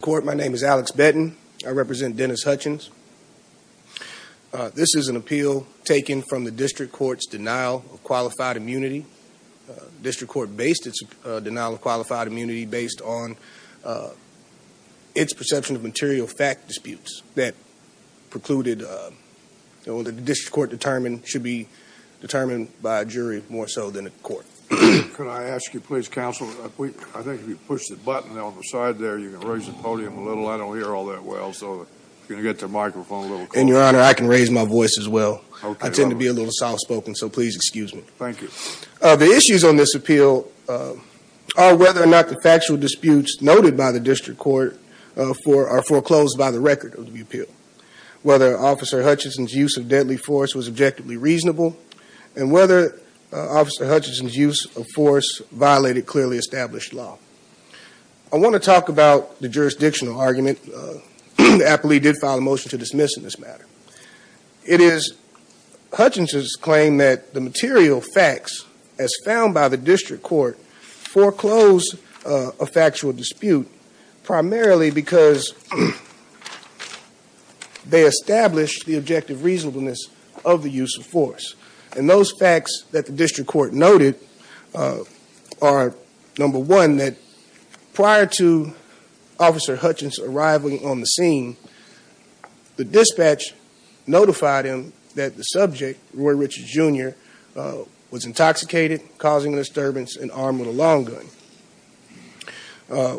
Court, my name is Alex Benton. I represent Dennis Hutchins. This is an appeal taken from the District Court's denial of qualified immunity. The District Court based its denial of qualified immunity based on its perception of material fact disputes that precluded, that the District Court determined should be determined by a jury more so than a court. Could I ask you please, counsel, I think if you push the button on the side there, you can raise the podium a little. I don't hear all that well, so if you can get the microphone a little closer. And your honor, I can raise my voice as well. I tend to be a little soft spoken, so please excuse me. Thank you. The issues on this appeal are whether or not the factual disputes noted by the District Court are foreclosed by the record of the appeal. Whether Officer Hutchinson's use of deadly force was objectively reasonable, and whether Officer Hutchinson's use of force violated clearly established law. I want to talk about the jurisdictional argument. The appellee did file a motion to dismiss in this matter. It is Hutchinson's claim that the material facts as found by the District Court foreclosed a factual dispute primarily because they established the objective reasonableness of the use of force. And those facts that the District Court noted are, number one, that prior to Officer Hutchinson arriving on the scene, the dispatch notified him that the subject, Roy Richards Jr., was intoxicated, causing a disturbance, and armed with a long gun.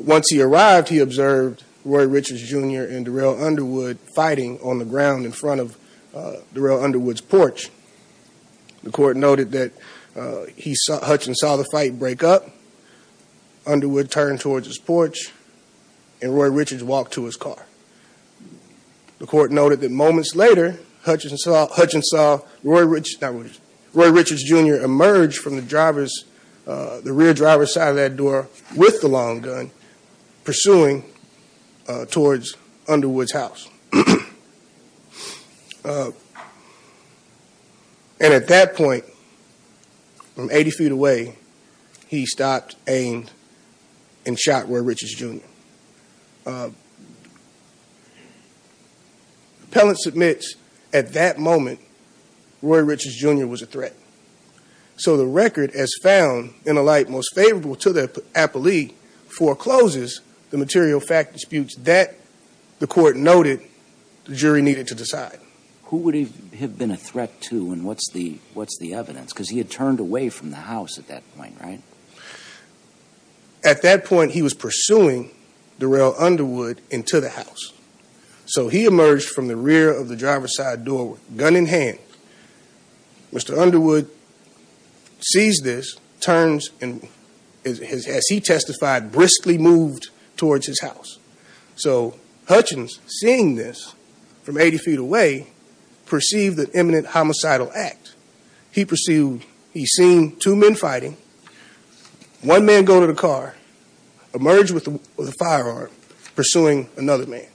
Once he arrived, he observed Roy Richards Jr. and Darrell Underwood fighting on the ground in front of Darrell Underwood's porch. The court noted that Hutchinson saw the fight break up, Underwood turned towards his porch, and Roy Richards walked to his car. The court noted that moments later, Hutchinson saw Roy Richards Jr. emerge from the rear driver's side of that door with the long gun, pursuing towards Underwood's house. And at that point, from 80 feet away, he stopped, aimed, and shot Roy Richards Jr. Appellant submits at that moment, Roy Richards Jr. was a threat. So the record, as found in a light most favorable to the appellee, forecloses the material fact disputes that, the court noted, the jury needed to decide. Who would he have been a threat to, and what's the evidence? Because he had turned away from the house at that point, right? At that point, he was pursuing Darrell Underwood into the house. So he emerged from the rear of the driver's side door with a gun in hand. Mr. Underwood sees this, turns, and as he testified, briskly moved towards his house. So Hutchinson, seeing this from 80 feet away, perceived the imminent homicidal act. He perceived, he seen two men fighting, one man go to the car, emerge with a firearm, pursuing another man.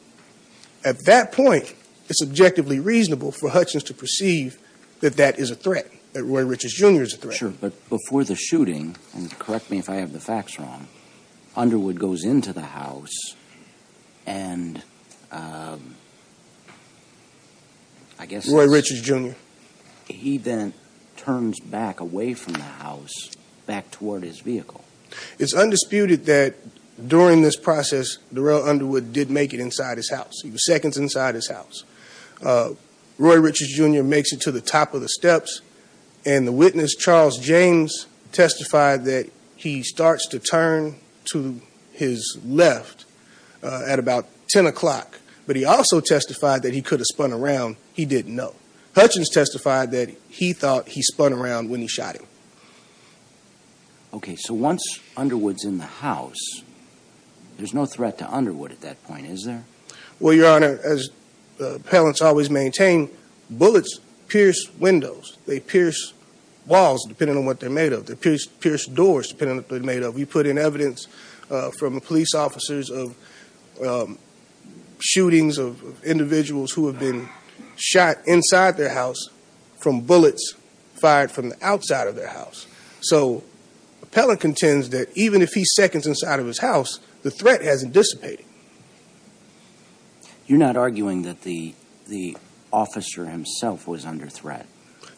At that point, it's objectively reasonable for Hutchinson to perceive that that is a threat, that Roy Richards Jr. is a threat. Sure, but before the shooting, and correct me if I have the facts wrong, Underwood goes into the house, and I guess... Roy Richards Jr. He then turns back away from the house, back toward his vehicle. It's undisputed that during this process, Darrell Underwood did make it inside his house. He was seconds inside his house. Roy Richards Jr. makes it to the top of the steps, and the witness, Charles James, testified that he starts to turn to his left at about 10 o'clock. But he also testified that he could have spun around. He didn't know. Hutchins testified that he thought he spun around when he shot him. Okay, so once Underwood's in the house, there's no threat to Underwood at that point, is there? Well, Your Honor, as appellants always maintain, bullets pierce windows. They pierce walls, depending on what they're made of. They pierce doors, depending on what they're made of. We put in evidence from police officers of shootings of individuals who have been shot inside their house from bullets fired from the outside of their house. So, appellant contends that even if he's seconds inside of his house, the threat hasn't dissipated. You're not arguing that the officer himself was under threat?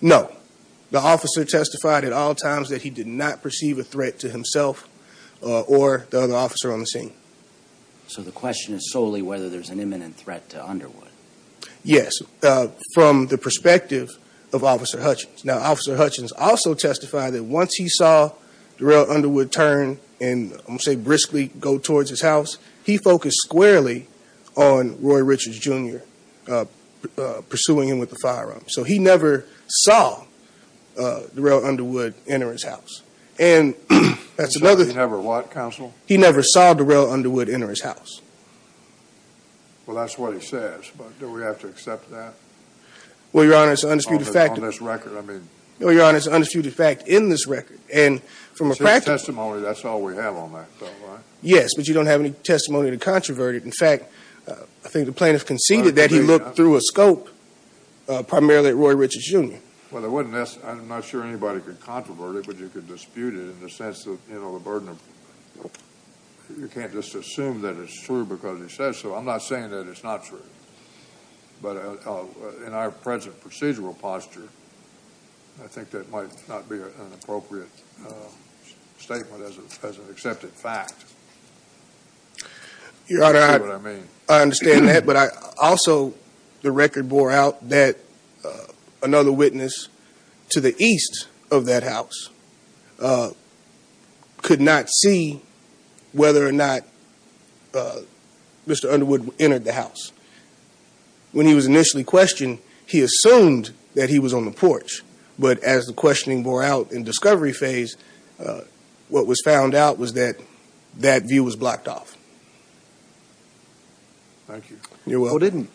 No. The officer testified at all times that he did not perceive a threat to himself or the other officer on the scene. So the question is solely whether there's an imminent threat to Underwood. Yes, from the perspective of Officer Hutchins. Now, Officer Hutchins also testified that once he saw Darrell Underwood turn and, I'm going to say, briskly go towards his house, he focused squarely on Roy Richards Jr. pursuing him with a firearm. So he never saw Darrell Underwood enter his house. So he never what, Counsel? He never saw Darrell Underwood enter his house. Well, that's what he says, but do we have to accept that on this record? Well, Your Honor, it's an undisputed fact in this record. Since testimony, that's all we have on that, though, right? Yes, but you don't have any testimony to controvert it. In fact, I think the plaintiff conceded that he looked through a scope primarily at Roy Richards Jr. Well, I'm not sure anybody could controvert it, but you could dispute it in the sense of the burden of you can't just assume that it's true because he says so. I'm not saying that it's not true. But in our present procedural posture, I think that might not be an appropriate statement as an accepted fact. Your Honor, I understand that, but I also, the record bore out that another witness to the east of that house could not see whether or not Mr. Underwood entered the house. When he was initially questioned, he assumed that he was on the porch. But as the questioning bore out in discovery phase, what was found out was that that view was blocked off. Thank you. You're welcome. Well, didn't,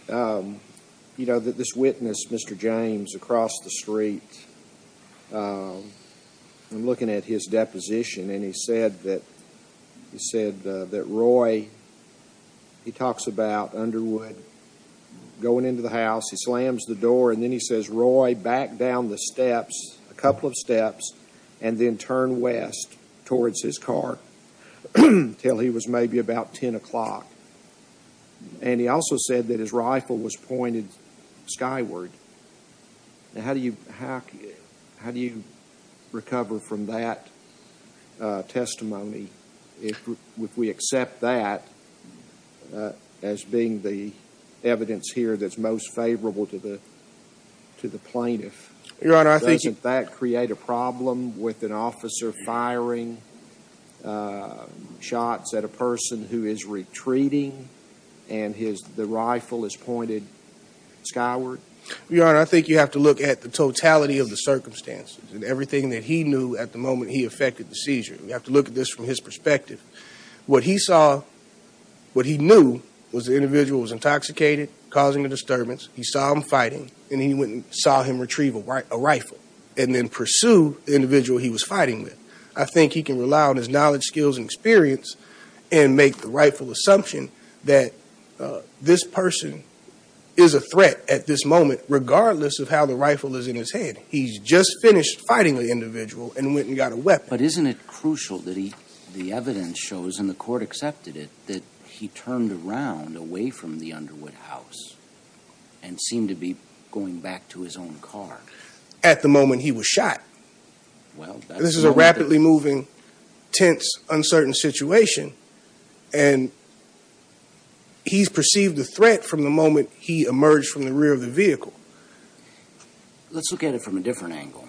you know, this witness, Mr. James, across the street, I'm looking at his deposition, and he said that Roy, he talks about Underwood going into the house. He slams the door, and then he says, Roy, back down the steps, a couple of steps, and then turn west towards his car until he was maybe about 10 o'clock. And he also said that his rifle was pointed skyward. Now, how do you recover from that testimony if we accept that as being the evidence here that's most favorable to the plaintiff? Your Honor, I think you Doesn't that create a problem with an officer firing shots at a person who is retreating, and the rifle is pointed skyward? Your Honor, I think you have to look at the totality of the circumstances and everything that he knew at the moment he effected the seizure. You have to look at this from his perspective. What he saw, what he knew was the individual was intoxicated, causing a disturbance. He saw him fighting, and he went and saw him retrieve a rifle and then pursue the individual he was fighting with. I think he can rely on his knowledge, skills, and experience and make the rightful assumption that this person is a threat at this moment, regardless of how the rifle is in his head. He's just finished fighting the individual and went and got a weapon. But isn't it crucial that the evidence shows, and the court accepted it, that he turned around away from the Underwood house and seemed to be going back to his own car? At the moment he was shot. This is a rapidly moving, tense, uncertain situation, and he's perceived a threat from the moment he emerged from the rear of the vehicle. Let's look at it from a different angle.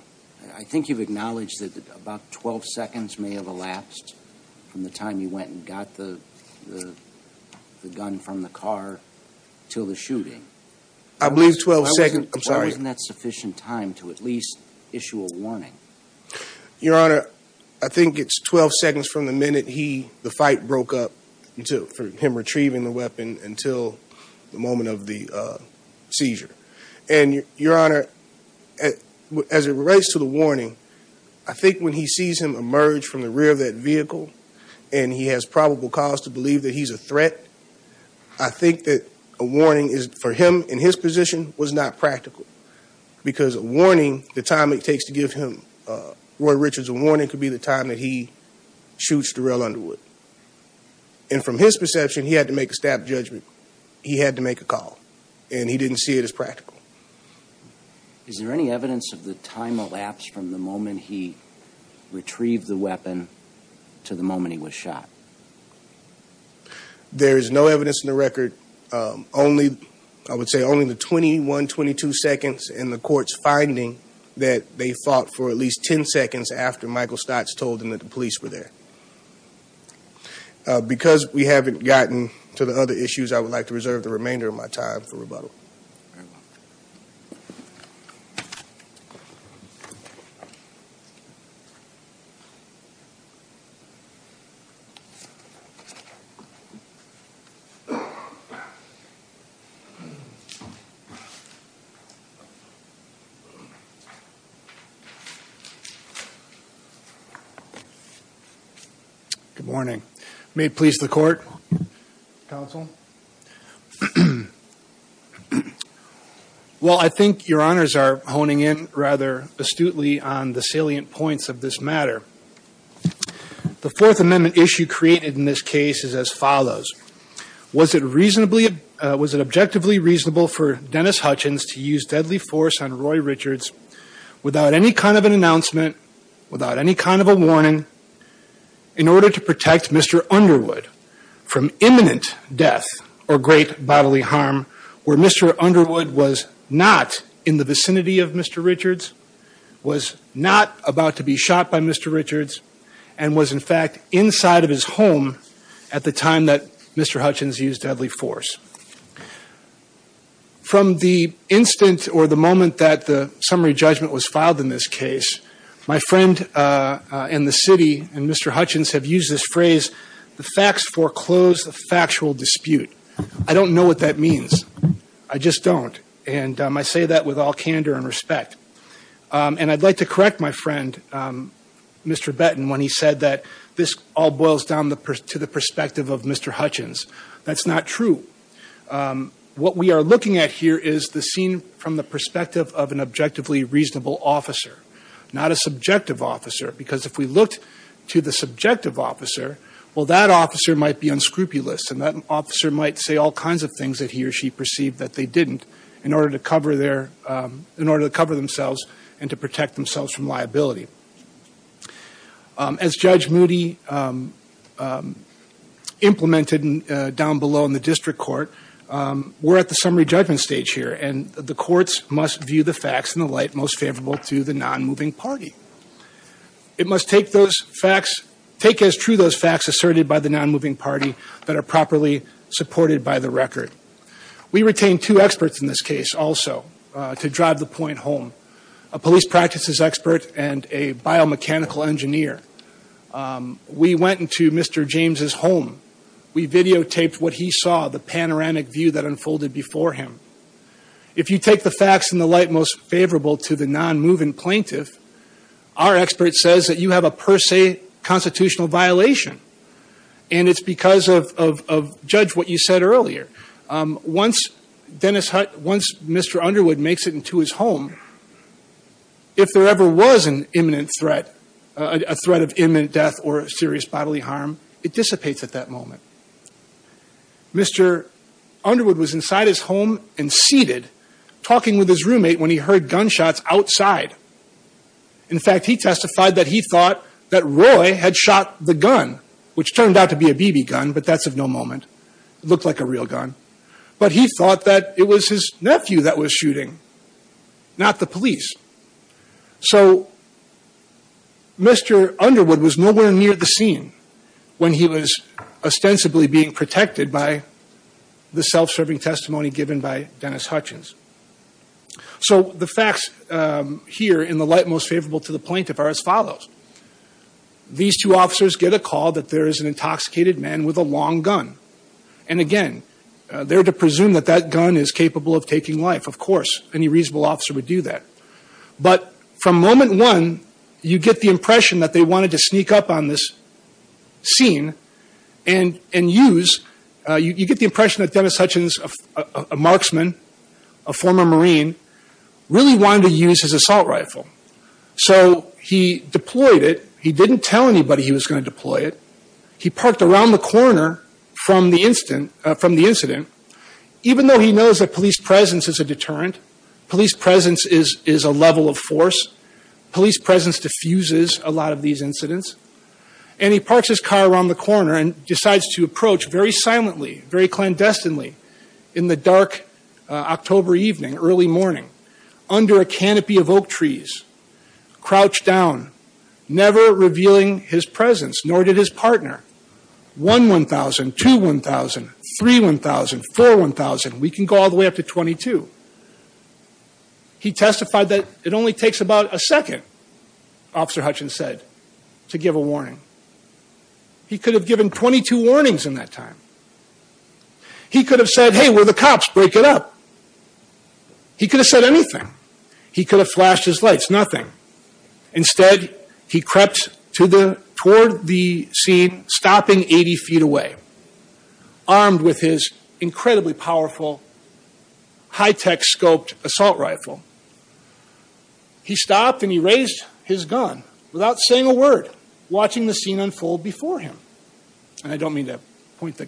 I think you've acknowledged that about 12 seconds may have elapsed from the time you went and got the gun from the car until the shooting. I believe 12 seconds. I'm sorry. Isn't that sufficient time to at least issue a warning? Your Honor, I think it's 12 seconds from the minute the fight broke up for him retrieving the weapon until the moment of the seizure. Your Honor, as it relates to the warning, I think when he sees him emerge from the rear of that vehicle and he has probable cause to believe that he's a threat, I think that a warning for him in his position was not practical because a warning, the time it takes to give Roy Richards a warning, could be the time that he shoots Darrell Underwood. And from his perception, he had to make a staff judgment. He had to make a call, and he didn't see it as practical. Is there any evidence of the time elapsed from the moment he retrieved the weapon to the moment he was shot? There is no evidence in the record. I would say only the 21, 22 seconds in the court's finding that they fought for at least 10 seconds after Michael Stotts told them that the police were there. Because we haven't gotten to the other issues, I would like to reserve the remainder of my time for rebuttal. Thank you. Good morning. May it please the court, counsel? Well, I think your honors are honing in rather astutely on the salient points of this matter. The Fourth Amendment issue created in this case is as follows. Was it reasonably, was it objectively reasonable for Dennis Hutchins to use deadly force on Roy Richards without any kind of an announcement, without any kind of a warning, in order to protect Mr. Underwood from imminent death or great bodily harm, where Mr. Underwood was not in the vicinity of Mr. Richards, was not about to be shot by Mr. Richards, and was in fact inside of his home at the time that Mr. Hutchins used deadly force? From the instant or the moment that the summary judgment was filed in this case, my friend in the city and Mr. Hutchins have used this phrase, the facts foreclose the factual dispute. I don't know what that means. I just don't. And I say that with all candor and respect. And I'd like to correct my friend, Mr. Benton, when he said that this all boils down to the perspective of Mr. Hutchins. That's not true. What we are looking at here is the scene from the perspective of an objectively reasonable officer, not a subjective officer, because if we looked to the subjective officer, well, that officer might be unscrupulous, and that officer might say all kinds of things that he or she perceived that they didn't, in order to cover themselves and to protect themselves from liability. As Judge Moody implemented down below in the district court, we're at the summary judgment stage here, and the courts must view the facts in the light most favorable to the non-moving party. It must take as true those facts asserted by the non-moving party that are properly supported by the record. We retain two experts in this case also, to drive the point home. A police practices expert and a biomechanical engineer. We went into Mr. James' home. We videotaped what he saw, the panoramic view that unfolded before him. If you take the facts in the light most favorable to the non-moving plaintiff, our expert says that you have a per se constitutional violation, and it's because of, Judge, what you said earlier. Once Mr. Underwood makes it into his home, if there ever was an imminent threat, a threat of imminent death or serious bodily harm, it dissipates at that moment. Mr. Underwood was inside his home and seated, talking with his roommate when he heard gunshots outside. In fact, he testified that he thought that Roy had shot the gun, which turned out to be a BB gun, but that's of no moment. It looked like a real gun. But he thought that it was his nephew that was shooting, not the police. So Mr. Underwood was nowhere near the scene when he was ostensibly being protected by the self-serving testimony given by Dennis Hutchins. So the facts here in the light most favorable to the plaintiff are as follows. These two officers get a call that there is an intoxicated man with a long gun. And, again, they're to presume that that gun is capable of taking life. Of course, any reasonable officer would do that. But from moment one, you get the impression that they wanted to sneak up on this scene and use – you get the impression that Dennis Hutchins, a marksman, a former Marine, really wanted to use his assault rifle. So he deployed it. He didn't tell anybody he was going to deploy it. He parked around the corner from the incident. Even though he knows that police presence is a deterrent, police presence is a level of force, police presence diffuses a lot of these incidents. And he parks his car around the corner and decides to approach very silently, very clandestinely in the dark October evening, early morning, under a canopy of oak trees, crouched down, never revealing his presence, nor did his partner. One 1,000, two 1,000, three 1,000, four 1,000. We can go all the way up to 22. He testified that it only takes about a second, Officer Hutchins said, to give a warning. He could have given 22 warnings in that time. He could have said, hey, we're the cops, break it up. He could have said anything. He could have flashed his lights, nothing. Instead, he crept toward the scene, stopping 80 feet away, armed with his incredibly powerful, high-tech scoped assault rifle. He stopped and he raised his gun without saying a word, watching the scene unfold before him. And I don't mean to point the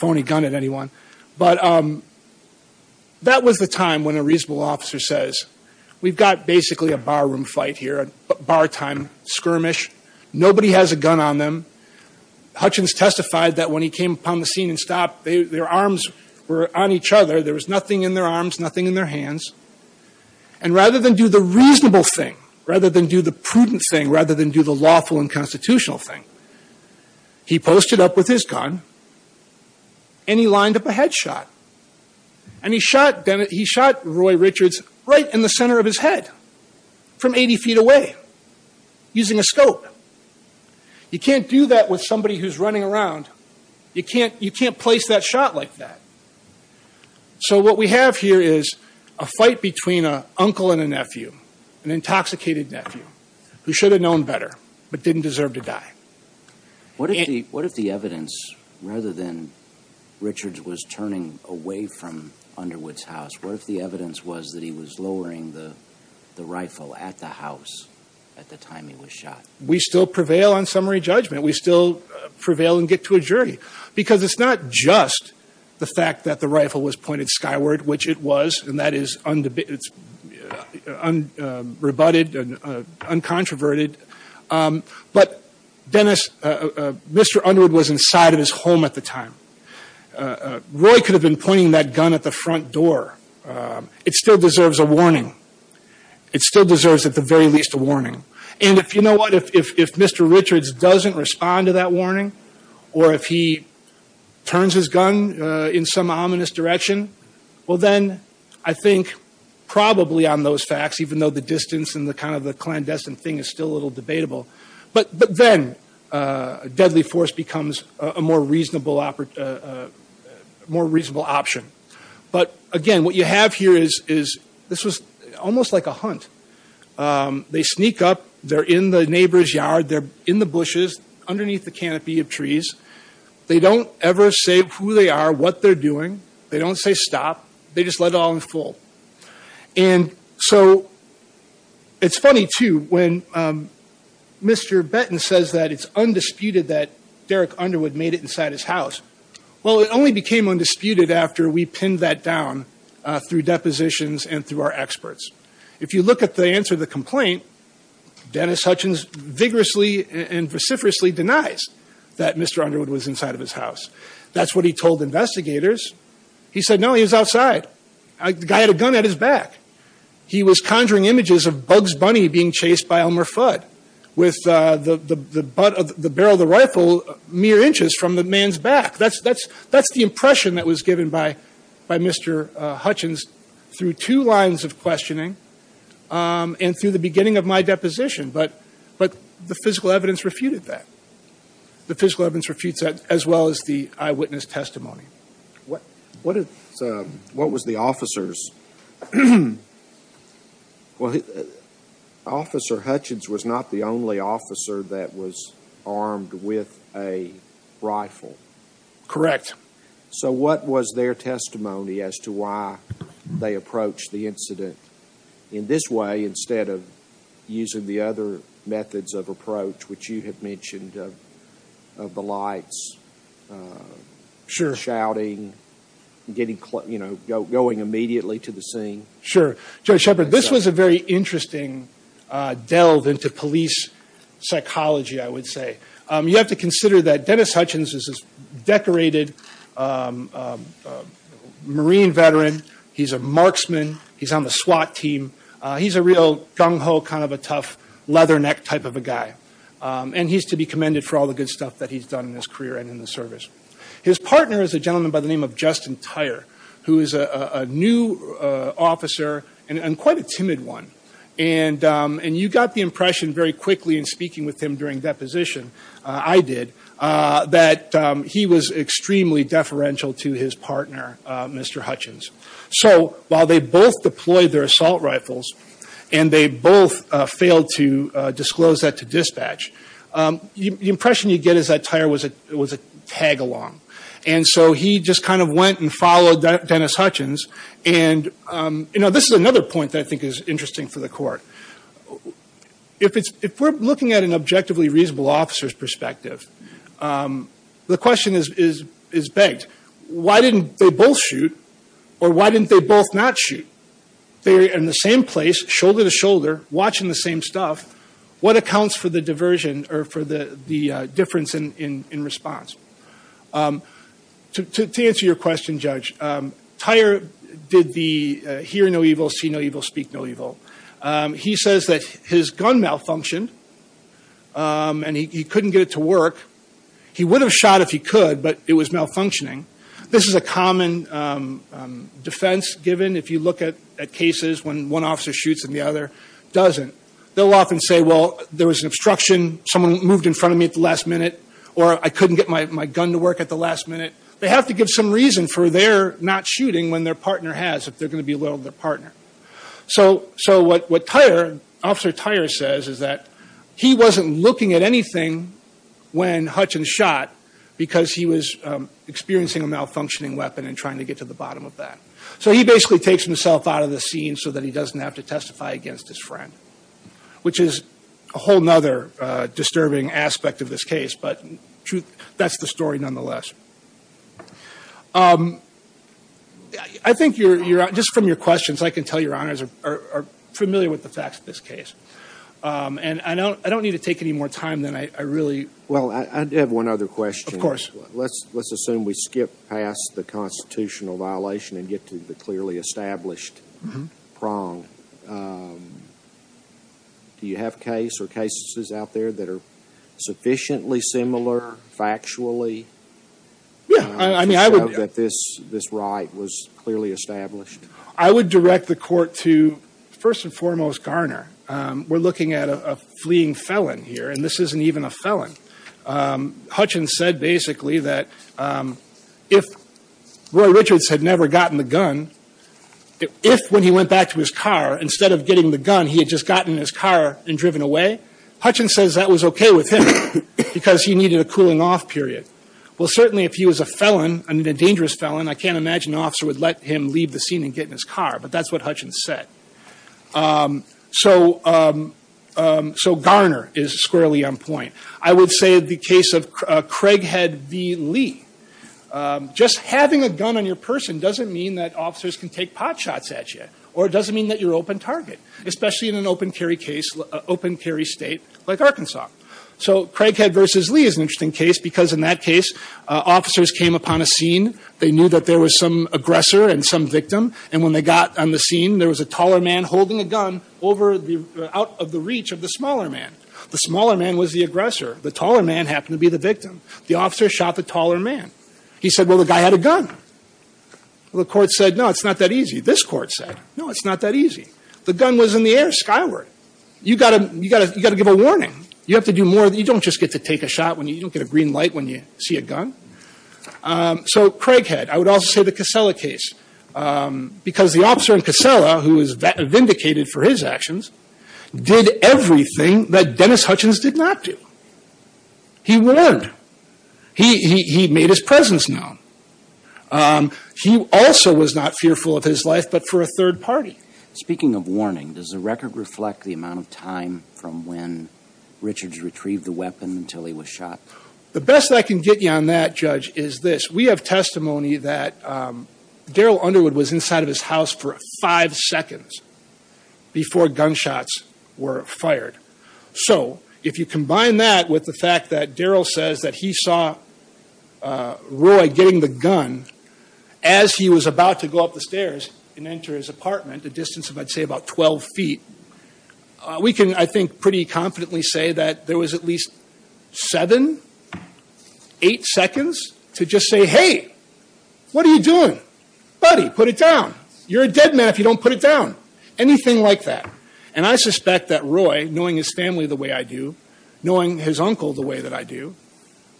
phony gun at anyone, but that was the time when a reasonable officer says, we've got basically a barroom fight here, a bar time skirmish. Nobody has a gun on them. Hutchins testified that when he came upon the scene and stopped, their arms were on each other. There was nothing in their arms, nothing in their hands. And rather than do the reasonable thing, rather than do the prudent thing, rather than do the lawful and constitutional thing, he posted up with his gun and he lined up a headshot. And he shot Roy Richards right in the center of his head from 80 feet away using a scope. You can't do that with somebody who's running around. You can't place that shot like that. So what we have here is a fight between an uncle and a nephew, an intoxicated nephew, who should have known better but didn't deserve to die. What if the evidence, rather than Richards was turning away from Underwood's house, what if the evidence was that he was lowering the rifle at the house at the time he was shot? We still prevail on summary judgment. We still prevail and get to a jury. Because it's not just the fact that the rifle was pointed skyward, which it was, and that is rebutted and uncontroverted, but Mr. Underwood was inside of his home at the time. Roy could have been pointing that gun at the front door. It still deserves a warning. It still deserves at the very least a warning. And if you know what, if Mr. Richards doesn't respond to that warning or if he turns his gun in some ominous direction, well then I think probably on those facts, even though the distance and the kind of the clandestine thing is still a little debatable, but then a deadly force becomes a more reasonable option. But, again, what you have here is this was almost like a hunt. They sneak up. They're in the neighbor's yard. They're in the bushes underneath the canopy of trees. They don't ever say who they are, what they're doing. They don't say stop. They just let it all unfold. And so it's funny, too, when Mr. Benton says that it's undisputed that Derek Underwood made it inside his house. Well, it only became undisputed after we pinned that down through depositions and through our experts. If you look at the answer to the complaint, Dennis Hutchins vigorously and vociferously denies that Mr. Underwood was inside of his house. That's what he told investigators. He said, no, he was outside. The guy had a gun at his back. He was conjuring images of Bugs Bunny being chased by Elmer Fudd with the barrel of the rifle mere inches from the man's back. That's the impression that was given by Mr. Hutchins through two lines of questioning and through the beginning of my deposition. But the physical evidence refuted that. The physical evidence refutes that as well as the eyewitness testimony. What was the officer's – well, Officer Hutchins was not the only officer that was armed with a rifle. Correct. So what was their testimony as to why they approached the incident in this way instead of using the other methods of approach, which you have mentioned of the lights, shouting, going immediately to the scene? Sure. Judge Shepard, this was a very interesting delve into police psychology, I would say. You have to consider that Dennis Hutchins is a decorated Marine veteran. He's a marksman. He's on the SWAT team. He's a real gung-ho, kind of a tough, leatherneck type of a guy. And he's to be commended for all the good stuff that he's done in his career and in the service. His partner is a gentleman by the name of Justin Tyre, who is a new officer and quite a timid one. And you got the impression very quickly in speaking with him during deposition, I did, that he was extremely deferential to his partner, Mr. Hutchins. So while they both deployed their assault rifles and they both failed to disclose that to dispatch, the impression you get is that Tyre was a tag-along. And so he just kind of went and followed Dennis Hutchins. And, you know, this is another point that I think is interesting for the court. If we're looking at an objectively reasonable officer's perspective, the question is begged. Why didn't they both shoot? Or why didn't they both not shoot? They were in the same place, shoulder to shoulder, watching the same stuff. What accounts for the diversion or for the difference in response? To answer your question, Judge, Tyre did the hear no evil, see no evil, speak no evil. He says that his gun malfunctioned and he couldn't get it to work. He would have shot if he could, but it was malfunctioning. This is a common defense given if you look at cases when one officer shoots and the other doesn't. They'll often say, well, there was an obstruction, someone moved in front of me at the last minute, or I couldn't get my gun to work at the last minute. They have to give some reason for their not shooting when their partner has, if they're going to be loyal to their partner. So what Officer Tyre says is that he wasn't looking at anything when Hutchins shot because he was experiencing a malfunctioning weapon and trying to get to the bottom of that. So he basically takes himself out of the scene so that he doesn't have to testify against his friend, which is a whole other disturbing aspect of this case, but that's the story nonetheless. I think just from your questions, I can tell your honors are familiar with the facts of this case. And I don't need to take any more time than I really... Well, I have one other question. Of course. Let's assume we skip past the constitutional violation and get to the clearly established prong. Do you have case or cases out there that are sufficiently similar factually to show that this right was clearly established? I would direct the Court to, first and foremost, Garner. We're looking at a fleeing felon here, and this isn't even a felon. Hutchins said basically that if Roy Richards had never gotten the gun, if when he went back to his car, instead of getting the gun, he had just gotten in his car and driven away, Hutchins says that was okay with him because he needed a cooling off period. Well, certainly if he was a felon, a dangerous felon, I can't imagine an officer would let him leave the scene and get in his car, but that's what Hutchins said. So Garner is squarely on point. I would say the case of Craighead v. Lee. Just having a gun on your person doesn't mean that officers can take pot shots at you, or it doesn't mean that you're open target, especially in an open carry state like Arkansas. So Craighead v. Lee is an interesting case because in that case, officers came upon a scene. They knew that there was some aggressor and some victim, and when they got on the scene, there was a taller man holding a gun out of the reach of the smaller man. The smaller man was the aggressor. The taller man happened to be the victim. The officer shot the taller man. He said, well, the guy had a gun. Well, the court said, no, it's not that easy. This court said, no, it's not that easy. The gun was in the air, skyward. You've got to give a warning. You have to do more. You don't just get to take a shot. You don't get a green light when you see a gun. So Craighead. I would also say the Casella case because the officer in Casella, who is vindicated for his actions, did everything that Dennis Hutchins did not do. He warned. He made his presence known. He also was not fearful of his life, but for a third party. Speaking of warning, does the record reflect the amount of time from when Richards retrieved the weapon until he was shot? The best I can get you on that, Judge, is this. We have testimony that Darrell Underwood was inside of his house for five seconds before gunshots were fired. So if you combine that with the fact that Darrell says that he saw Roy getting the gun as he was about to go up the stairs and enter his apartment, a distance of, I'd say, about 12 feet, we can, I think, pretty confidently say that there was at least seven, eight seconds to just say, hey, what are you doing? Buddy, put it down. You're a dead man if you don't put it down. Anything like that. And I suspect that Roy, knowing his family the way I do, knowing his uncle the way that I do,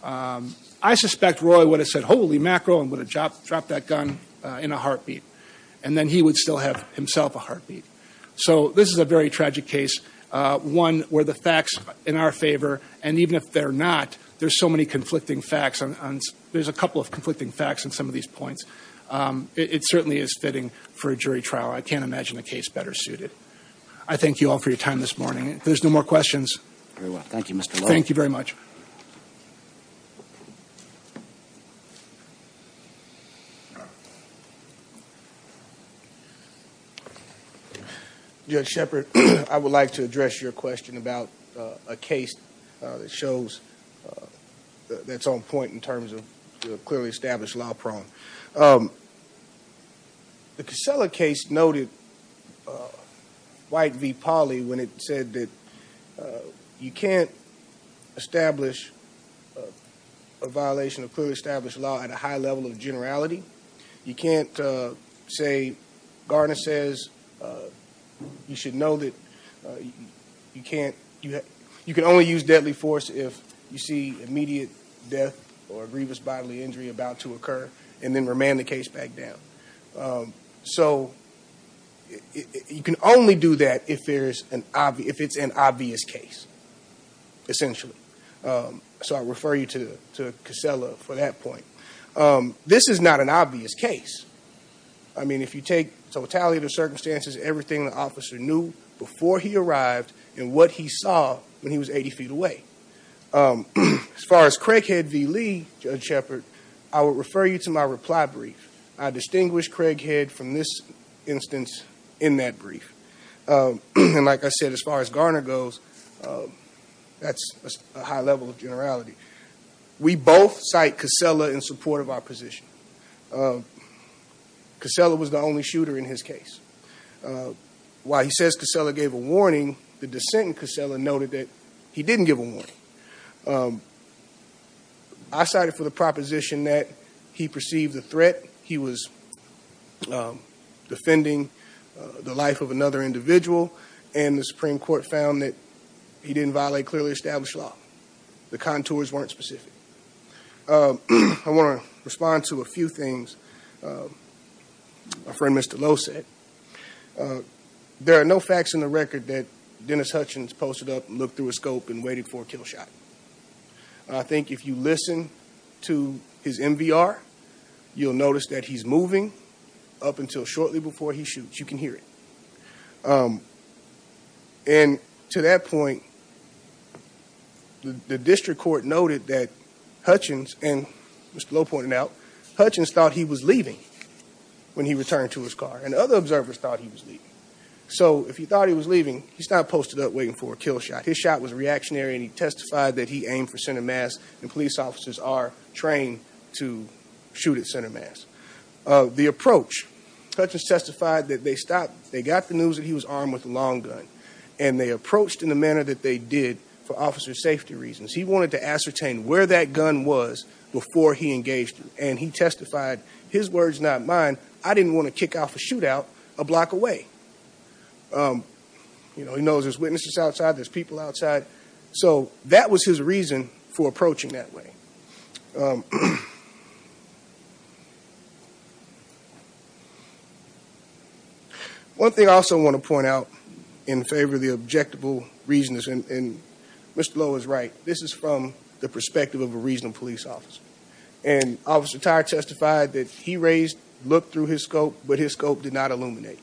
I suspect Roy would have said, holy mackerel, and would have dropped that gun in a heartbeat. And then he would still have himself a heartbeat. So this is a very tragic case, one where the facts in our favor, and even if they're not, there's so many conflicting facts. There's a couple of conflicting facts in some of these points. It certainly is fitting for a jury trial. I can't imagine a case better suited. I thank you all for your time this morning. If there's no more questions. Very well. Thank you, Mr. Lloyd. Thank you very much. Judge Shepard, I would like to address your question about a case that shows, that's on point in terms of clearly established law prone. The Casella case noted White v. Pauley when it said that you can't establish a violation of clearly established law at a high level of generality. You can't say, Gardner says, you should know that you can only use deadly force if you see immediate death or a grievous bodily injury about to occur, and then remand the case back down. So you can only do that if it's an obvious case, essentially. So I refer you to Casella for that point. This is not an obvious case. I mean, if you take totality of the circumstances, everything the officer knew before he arrived, and what he saw when he was 80 feet away. As far as Craighead v. Lee, Judge Shepard, I would refer you to my reply brief. I distinguished Craighead from this instance in that brief. And like I said, as far as Gardner goes, that's a high level of generality. We both cite Casella in support of our position. Casella was the only shooter in his case. While he says Casella gave a warning, the dissent in Casella noted that he didn't give a warning. I cited for the proposition that he perceived the threat. He was defending the life of another individual. And the Supreme Court found that he didn't violate clearly established law. The contours weren't specific. I want to respond to a few things my friend Mr. Lowe said. There are no facts in the record that Dennis Hutchins posted up and looked through a scope and waited for a kill shot. I think if you listen to his MVR, you'll notice that he's moving up until shortly before he shoots. You can hear it. And to that point, the district court noted that Hutchins, and Mr. Lowe pointed out, Hutchins thought he was leaving when he returned to his car. And other observers thought he was leaving. So if he thought he was leaving, he's not posted up waiting for a kill shot. His shot was reactionary and he testified that he aimed for center mass and police officers are trained to shoot at center mass. The approach, Hutchins testified that they stopped, they got the news that he was armed with a long gun. And they approached in the manner that they did for officer safety reasons. He wanted to ascertain where that gun was before he engaged him. And he testified, his words not mine, I didn't want to kick off a shootout a block away. He knows there's witnesses outside, there's people outside. So that was his reason for approaching that way. One thing I also want to point out in favor of the objectable reasons, and Mr. Lowe is right. This is from the perspective of a reasonable police officer. And Officer Tire testified that he raised, looked through his scope, but his scope did not illuminate.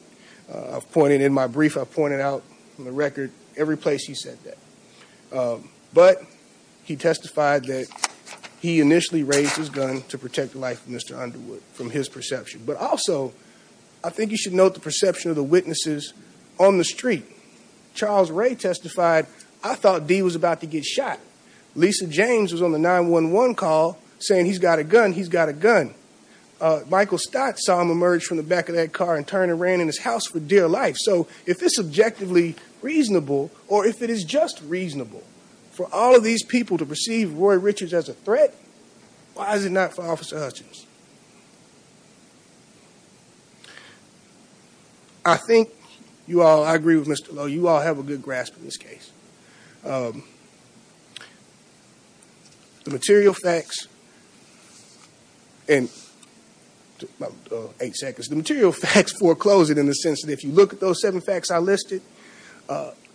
I've pointed in my brief, I've pointed out on the record every place he said that. But he testified that he initially raised his gun to protect the life of Mr. Underwood. From his perception. But also, I think you should note the perception of the witnesses on the street. Charles Ray testified, I thought D was about to get shot. Lisa James was on the 911 call saying he's got a gun, he's got a gun. Michael Stott saw him emerge from the back of that car and turn and ran in his house for dear life. So if it's subjectively reasonable, or if it is just reasonable for all of these people to perceive Roy Richards as a threat. Why is it not for Officer Hutchins? I think you all, I agree with Mr. Lowe. You all have a good grasp of this case. The material facts, in about eight seconds. The material facts foreclose it in the sense that if you look at those seven facts I listed.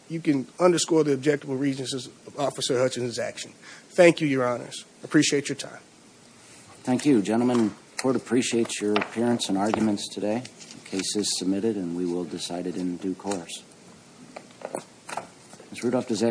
You can underscore the objectable reasons of Officer Hutchins' action. Thank you, your honors. I appreciate your time. Thank you. Gentlemen, the court appreciates your appearance and arguments today. The case is submitted and we will decide it in due course.